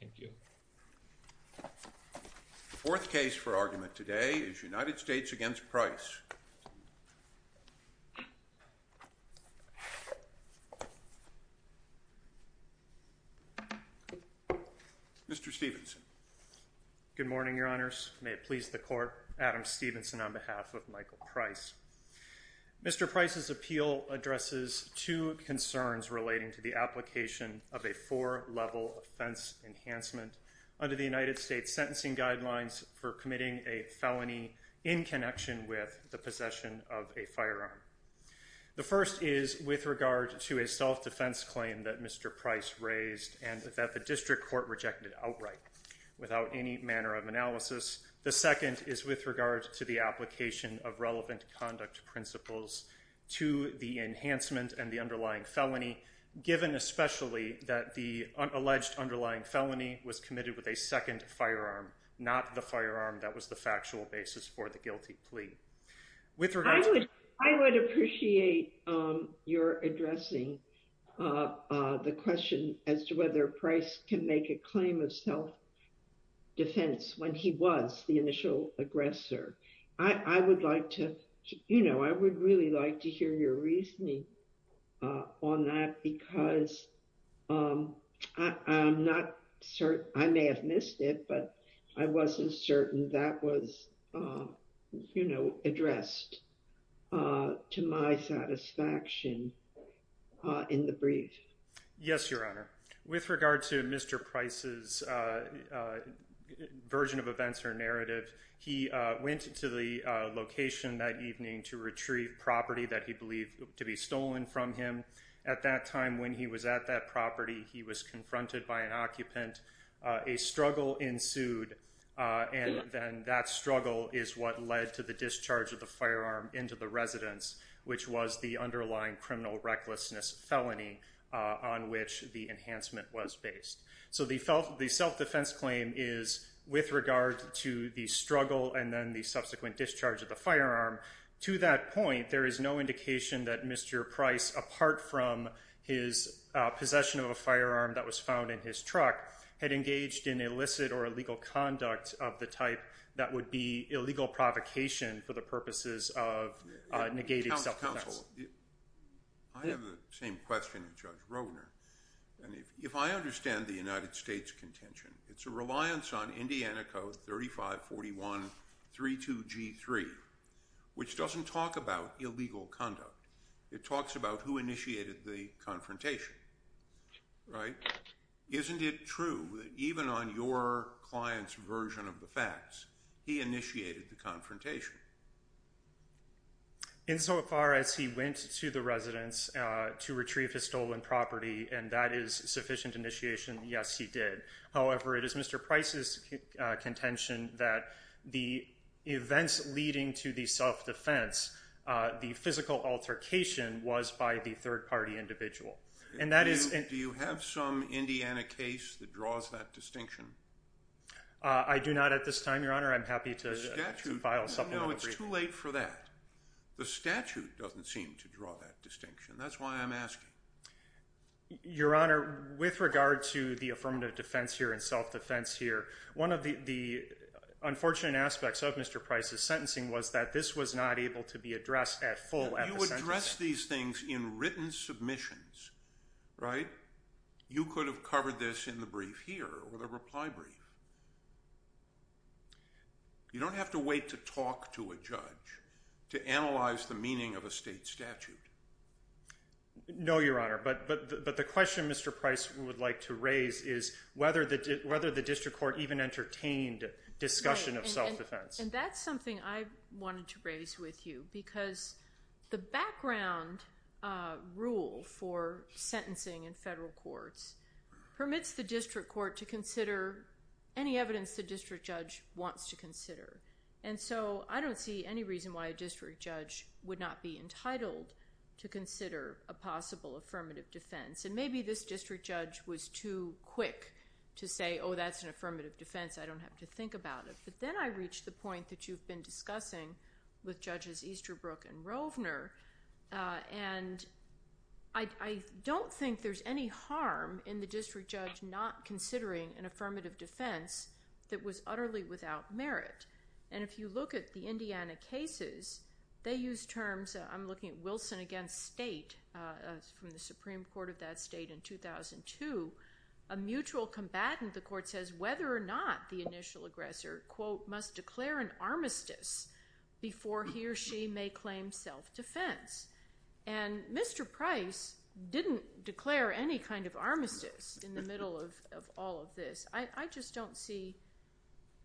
Thank you. Fourth case for argument today is United States v. Price. Mr. Stephenson. Good morning, Your Honors. May it please the Court, Adam Stephenson on behalf of Michael Price. Mr. Price's appeal addresses two concerns relating to the application of a four-level offense enhancement under the United States Sentencing Guidelines for committing a felony in connection with the possession of a firearm. The first is with regard to a self-defense claim that Mr. Price raised and that the District Court rejected outright without any manner of analysis. The second is with regard to the application of relevant conduct principles to the enhancement and the underlying felony, given especially that the alleged underlying felony was committed with a second firearm, not the firearm that was the factual basis for the guilty plea. I would appreciate your addressing the question as to whether Price can make a claim of self-defense when he was the initial aggressor. I would really like to hear your reasoning on that because I may have missed it, but I wasn't certain that was addressed to my satisfaction in the brief. Yes, Your Honor. With regard to Mr. Price's version of events or narrative, he went to the location that evening to retrieve property that he believed to be stolen from him. At that time, when he was at that property, he was confronted by an occupant. A struggle ensued, and then that struggle is what led to the discharge of the firearm into the residence, which was the underlying criminal recklessness felony on which the enhancement was based. So the self-defense claim is with regard to the struggle and then the subsequent discharge of the firearm. To that point, there is no indication that Mr. Price, apart from his possession of a firearm that was found in his truck, had engaged in illicit or illegal conduct of the type that would be illegal provocation for the purposes of negating self-defense. Counsel, I have the same question as Judge Roedner. If I understand the United States' contention, it's a reliance on Indiana Code 3541.32.G.3, which doesn't talk about illegal conduct. It talks about who initiated the confrontation. Isn't it true that even on your client's version of the facts, he initiated the confrontation? Insofar as he went to the residence to retrieve his stolen property, and that is sufficient initiation, yes, he did. However, it is Mr. Price's contention that the events leading to the self-defense, the physical altercation, was by the third-party individual. Do you have some Indiana case that draws that distinction? I do not at this time, Your Honor. I'm happy to file a supplement. Well, it's too late for that. The statute doesn't seem to draw that distinction. That's why I'm asking. Your Honor, with regard to the affirmative defense here and self-defense here, one of the unfortunate aspects of Mr. Price's sentencing was that this was not able to be addressed at full at the sentencing. You addressed these things in written submissions, right? You could have covered this in the brief here or the reply brief. You don't have to wait to talk to a judge to analyze the meaning of a state statute. No, Your Honor, but the question Mr. Price would like to raise is whether the district court even entertained discussion of self-defense. And that's something I wanted to raise with you because the background rule for sentencing in federal courts permits the district court to consider any evidence the district judge wants to consider. And so I don't see any reason why a district judge would not be entitled to consider a possible affirmative defense. And maybe this district judge was too quick to say, oh, that's an affirmative defense. I don't have to think about it. But then I reach the point that you've been discussing with Judges Easterbrook and Rovner, and I don't think there's any harm in the district judge not considering an affirmative defense that was utterly without merit. And if you look at the Indiana cases, they use terms, I'm looking at Wilson against State from the Supreme Court of that state in 2002. A mutual combatant, the court says, whether or not the initial aggressor, quote, must declare an armistice before he or she may claim self-defense. And Mr. Price didn't declare any kind of armistice in the middle of all of this. I just don't see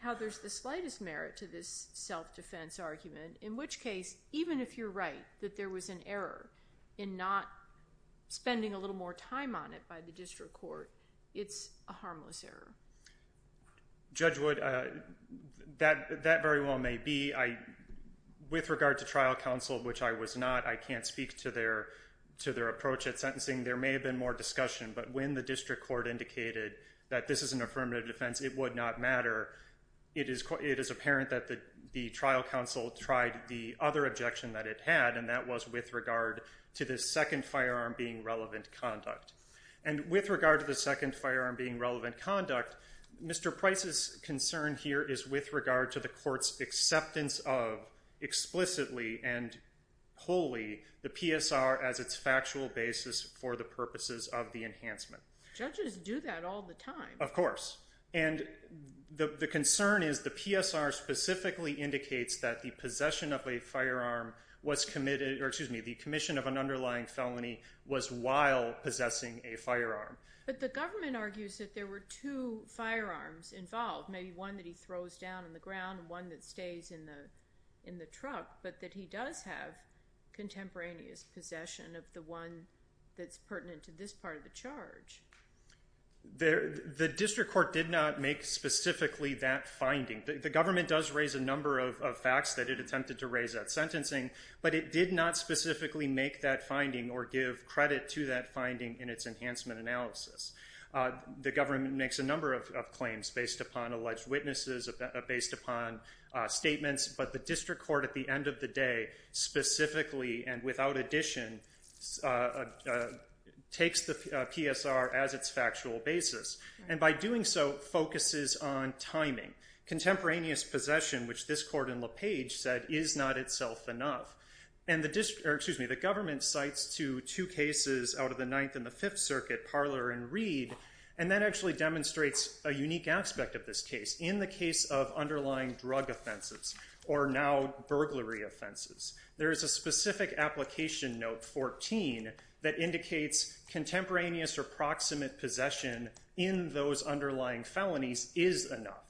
how there's the slightest merit to this self-defense argument, in which case, even if you're right that there was an error in not spending a little more time on it by the district court, it's a harmless error. Judge Wood, that very well may be. With regard to trial counsel, which I was not, I can't speak to their approach at sentencing. There may have been more discussion, but when the district court indicated that this is an affirmative defense, it would not matter. It is apparent that the trial counsel tried the other objection that it had, and that was with regard to the second firearm being relevant conduct. And with regard to the second firearm being relevant conduct, Mr. Price's concern here is with regard to the court's acceptance of explicitly and wholly the PSR as its factual basis for the purposes of the enhancement. Judges do that all the time. Of course. And the concern is the PSR specifically indicates that the possession of a firearm was committed, or excuse me, the commission of an underlying felony was while possessing a firearm. But the government argues that there were two firearms involved, maybe one that he throws down on the ground and one that stays in the truck, but that he does have contemporaneous possession of the one that's pertinent to this part of the charge. The district court did not make specifically that finding. The government does raise a number of facts that it attempted to raise at sentencing, but it did not specifically make that finding or give credit to that finding in its enhancement analysis. The government makes a number of claims based upon alleged witnesses, based upon statements, but the district court at the end of the day specifically and without addition takes the PSR as its factual basis. And by doing so, focuses on timing. Contemporaneous possession, which this court in LaPage said is not itself enough. And the district, or excuse me, the government cites to two cases out of the Ninth and the Fifth Circuit, Parler and Reed, and that actually demonstrates a unique aspect of this case. In the case of underlying drug offenses, or now burglary offenses, there is a specific application note 14 that indicates contemporaneous or proximate possession in those underlying felonies is enough.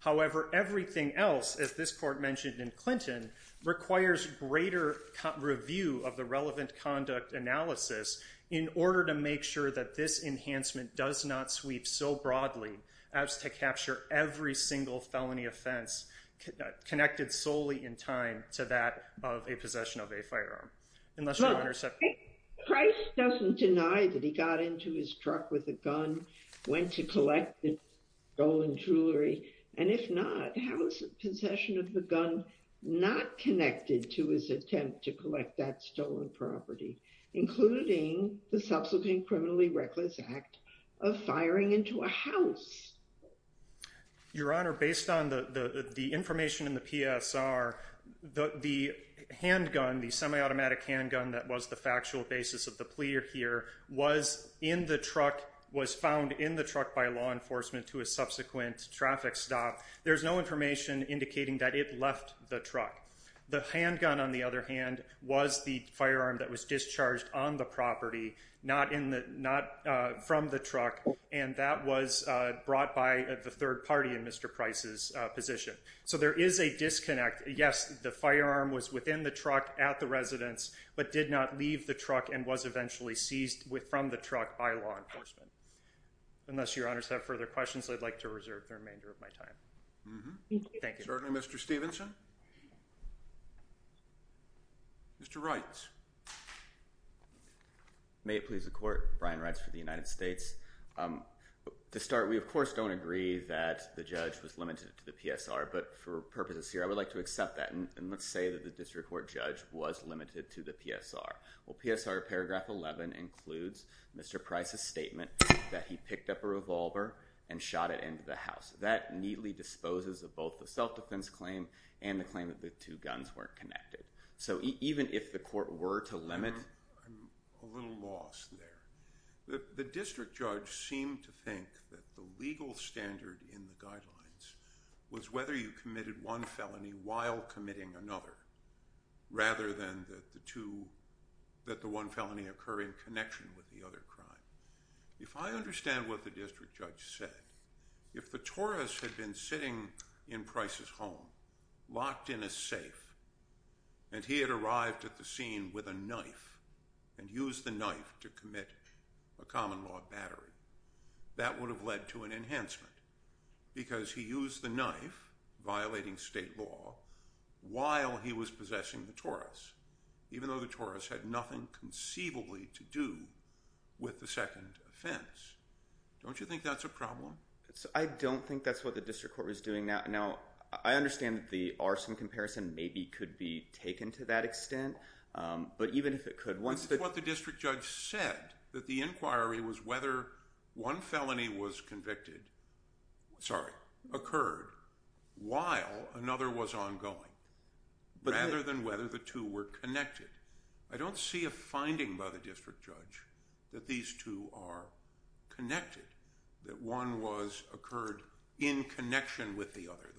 However, everything else, as this court mentioned in Clinton, requires greater review of the relevant conduct analysis in order to make sure that this enhancement does not sweep so broadly as to capture every single felony offense connected solely in time to that of a possession of a firearm. Well, if Christ doesn't deny that he got into his truck with a gun, went to collect the stolen jewelry, and if not, how is the possession of the gun not connected to his attempt to collect that stolen property, including the subsequent criminally reckless act of firing into a house? Your Honor, based on the information in the PSR, the handgun, the semi-automatic handgun that was the factual basis of the plea here was in the truck, was found in the truck by law enforcement to a subsequent traffic stop. There's no information indicating that it left the truck. The handgun, on the other hand, was the firearm that was discharged on the property, not from the truck, and that was brought by the third party in Mr. Price's position. So there is a disconnect. Yes, the firearm was within the truck at the residence, but did not leave the truck and was eventually seized from the truck by law enforcement. Unless Your Honors have further questions, I'd like to reserve the remainder of my time. Thank you. Certainly, Mr. Stevenson. Mr. Reitz. May it please the Court, Brian Reitz for the United States. To start, we of course don't agree that the judge was limited to the PSR, but for purposes here, I would like to accept that and let's say that the district court judge was limited to the PSR. Well, PSR paragraph 11 includes Mr. Price's statement that he picked up a revolver and shot it into the house. That neatly disposes of both the self-defense claim and the claim that the two guns weren't connected. So even if the court were to limit… I'm a little lost there. The district judge seemed to think that the legal standard in the guidelines was whether you committed one felony while committing another, rather than that the one felony occur in connection with the other crime. If I understand what the district judge said, if the Taurus had been sitting in Price's home, locked in a safe, and he had arrived at the scene with a knife and used the knife to commit a common law battery, that would have led to an enhancement. Because he used the knife, violating state law, while he was possessing the Taurus, even though the Taurus had nothing conceivably to do with the second offense. Don't you think that's a problem? I don't think that's what the district court was doing. Now, I understand that the arson comparison maybe could be taken to that extent, but even if it could… That's what the district judge said, that the inquiry was whether one felony occurred while another was ongoing, rather than whether the two were connected. I don't see a finding by the district judge that these two are connected, that one occurred in connection with the other.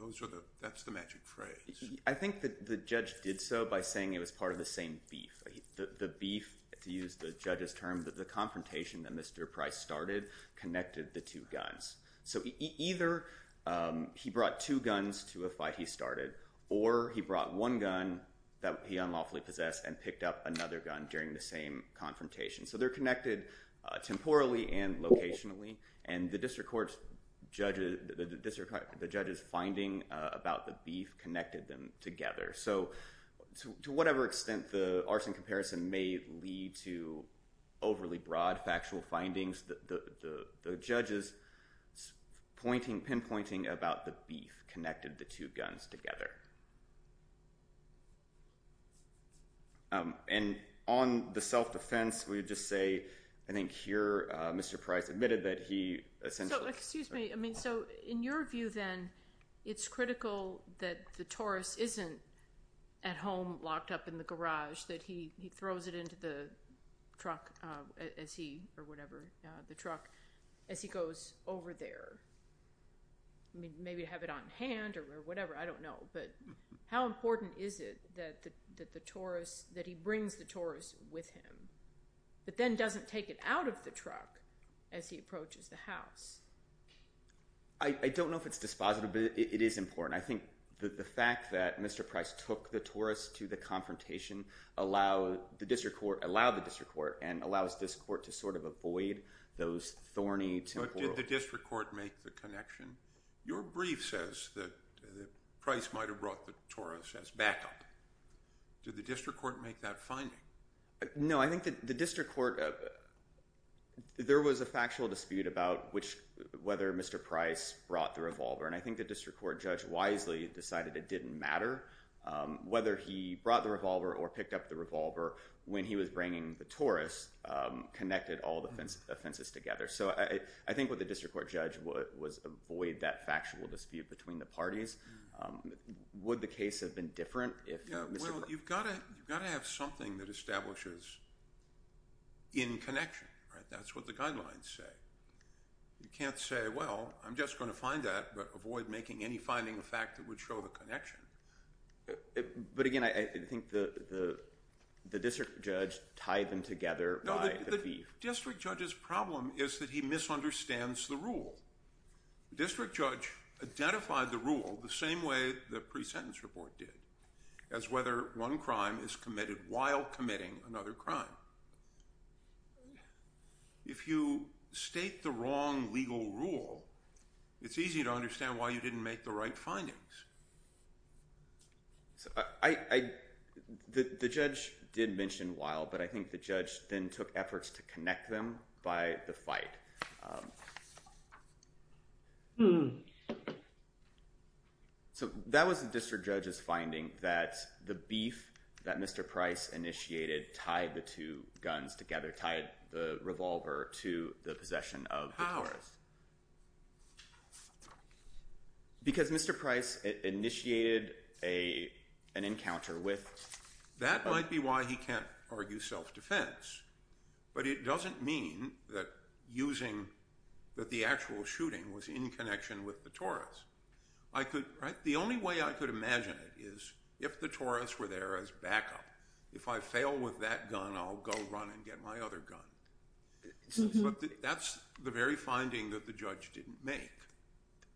That's the magic phrase. I think the judge did so by saying it was part of the same beef. The beef, to use the judge's term, the confrontation that Mr. Price started connected the two guns. Either he brought two guns to a fight he started, or he brought one gun that he unlawfully possessed and picked up another gun during the same confrontation. So they're connected temporally and locationally, and the district judge's finding about the beef connected them together. To whatever extent the arson comparison may lead to overly broad factual findings, the judge's pinpointing about the beef connected the two guns together. And on the self-defense, we would just say, I think here Mr. Price admitted that he essentially… So, excuse me. I mean, so in your view then, it's critical that the Taurus isn't at home locked up in the garage, that he throws it into the truck as he, or whatever, the truck, as he goes over there. I mean, maybe to have it on hand or whatever, I don't know. But how important is it that the Taurus, that he brings the Taurus with him, but then doesn't take it out of the truck as he approaches the house? I don't know if it's dispositive, but it is important. I think the fact that Mr. Price took the Taurus to the confrontation allowed the district court, and allows this court to sort of avoid those thorny… But did the district court make the connection? Your brief says that Price might have brought the Taurus as backup. Did the district court make that finding? No, I think the district court, there was a factual dispute about whether Mr. Price brought the revolver. And I think the district court judge wisely decided it didn't matter whether he brought the revolver or picked up the revolver when he was bringing the Taurus, connected all the fences together. So I think what the district court judge was avoid that factual dispute between the parties. Would the case have been different if Mr. Price… Well, you've got to have something that establishes in connection, right? That's what the guidelines say. You can't say, well, I'm just going to find that, but avoid making any finding a fact that would show the connection. But again, I think the district judge tied them together by the brief. District judge's problem is that he misunderstands the rule. District judge identified the rule the same way the pre-sentence report did, as whether one crime is committed while committing another crime. If you state the wrong legal rule, it's easy to understand why you didn't make the right findings. The judge did mention while, but I think the judge then took efforts to connect them by the fight. So that was the district judge's finding that the beef that Mr. Price initiated tied the two guns together, tied the revolver to the possession of the Taurus. Because Mr. Price initiated an encounter with… That might be why he can't argue self-defense, but it doesn't mean that using the actual shooting was in connection with the Taurus. The only way I could imagine it is if the Taurus were there as backup. If I fail with that gun, I'll go run and get my other gun. That's the very finding that the judge didn't make.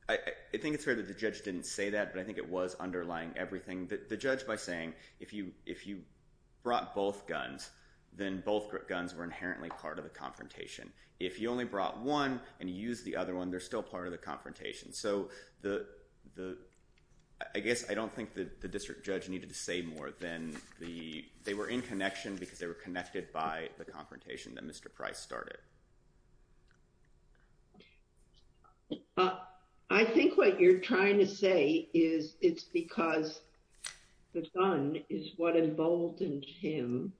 I think it's fair that the judge didn't say that, but I think it was underlying everything. The judge, by saying, if you brought both guns, then both guns were inherently part of the confrontation. If you only brought one and used the other one, they're still part of the confrontation. I guess I don't think the district judge needed to say more than they were in connection because they were connected by the confrontation that Mr. Price started. I think what you're trying to say is it's because the gun is what emboldened him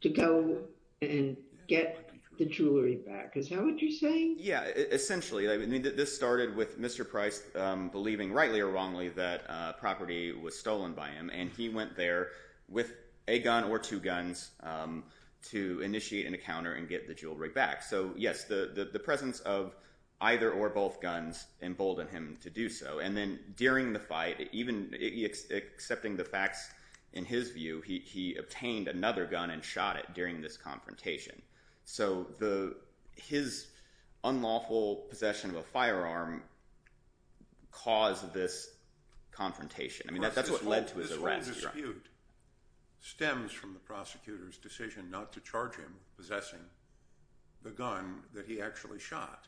to go and get the jewelry back. Is that what you're saying? Essentially. This started with Mr. Price believing, rightly or wrongly, that property was stolen by him. He went there with a gun or two guns to initiate an encounter and get the jewelry back. Yes, the presence of either or both guns emboldened him to do so. During the fight, even accepting the facts in his view, he obtained another gun and shot it during this confrontation. So his unlawful possession of a firearm caused this confrontation. That's what led to his arrest. This whole dispute stems from the prosecutor's decision not to charge him possessing the gun that he actually shot.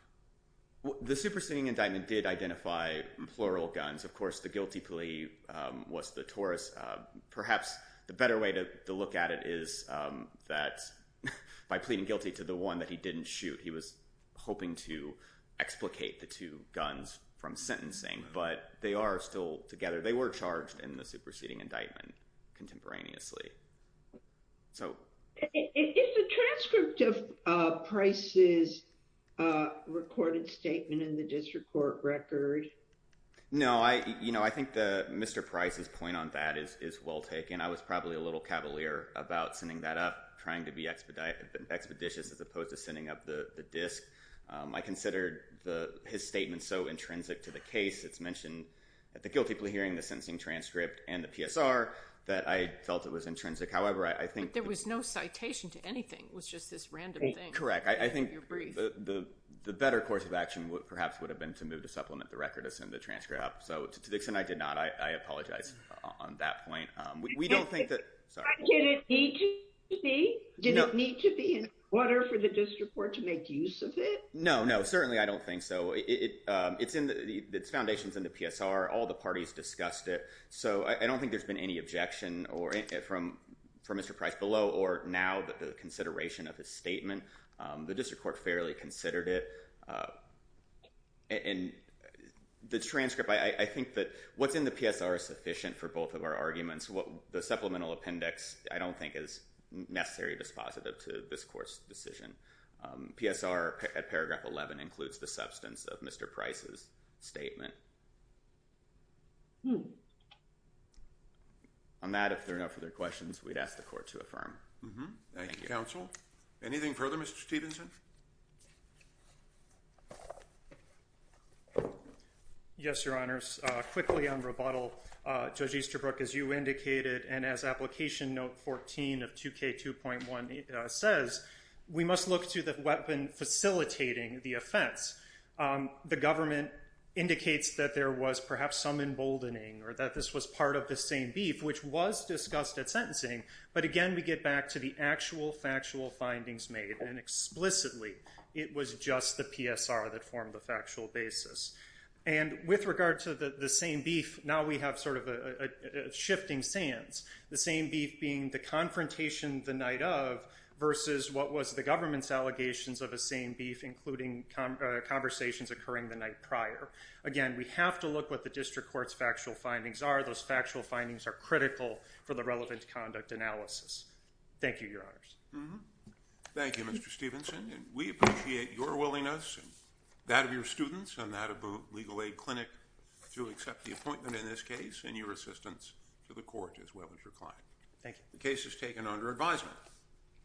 The superseding indictment did identify plural guns. Of course, the guilty plea was the Taurus. Perhaps the better way to look at it is that by pleading guilty to the one that he didn't shoot, he was hoping to explicate the two guns from sentencing. But they are still together. They were charged in the superseding indictment contemporaneously. Is the transcript of Price's recorded statement in the district court record? No, I think Mr. Price's point on that is well taken. I was probably a little cavalier about sending that up, trying to be expeditious as opposed to sending up the disc. I considered his statement so intrinsic to the case, it's mentioned at the guilty plea hearing, the sentencing transcript, and the PSR, that I felt it was intrinsic. But there was no citation to anything. It was just this random thing. You're correct. I think the better course of action perhaps would have been to move to supplement the record to send the transcript up. To the extent I did not, I apologize on that point. Did it need to be? Did it need to be in order for the district court to make use of it? No, certainly I don't think so. Its foundation is in the PSR. All the parties discussed it. I don't think there's been any objection from Mr. Price below or now the consideration of his statement. The district court fairly considered it. The transcript, I think that what's in the PSR is sufficient for both of our arguments. The supplemental appendix I don't think is necessarily dispositive to this court's decision. PSR at paragraph 11 includes the substance of Mr. Price's statement. On that, if there are no further questions, we'd ask the court to affirm. Thank you, counsel. Anything further, Mr. Stevenson? Yes, Your Honors. Quickly on rebuttal, Judge Easterbrook, as you indicated, and as Application Note 14 of 2K2.1 says, we must look to the weapon facilitating the offense. The government indicates that there was perhaps some emboldening or that this was part of the same beef, which was discussed at sentencing, but again, we get back to the actual factual findings made, and explicitly it was just the PSR that formed the factual basis. And with regard to the same beef, now we have sort of a shifting sands. The same beef being the confrontation the night of versus what was the government's allegations of the same beef, including conversations occurring the night prior. Again, we have to look what the district court's factual findings are. Those factual findings are critical for the relevant conduct analysis. Thank you, Your Honors. Thank you, Mr. Stevenson. We appreciate your willingness and that of your students and that of the Legal Aid Clinic to accept the appointment in this case and your assistance to the court as well as your client. Thank you. The case is taken under advisement.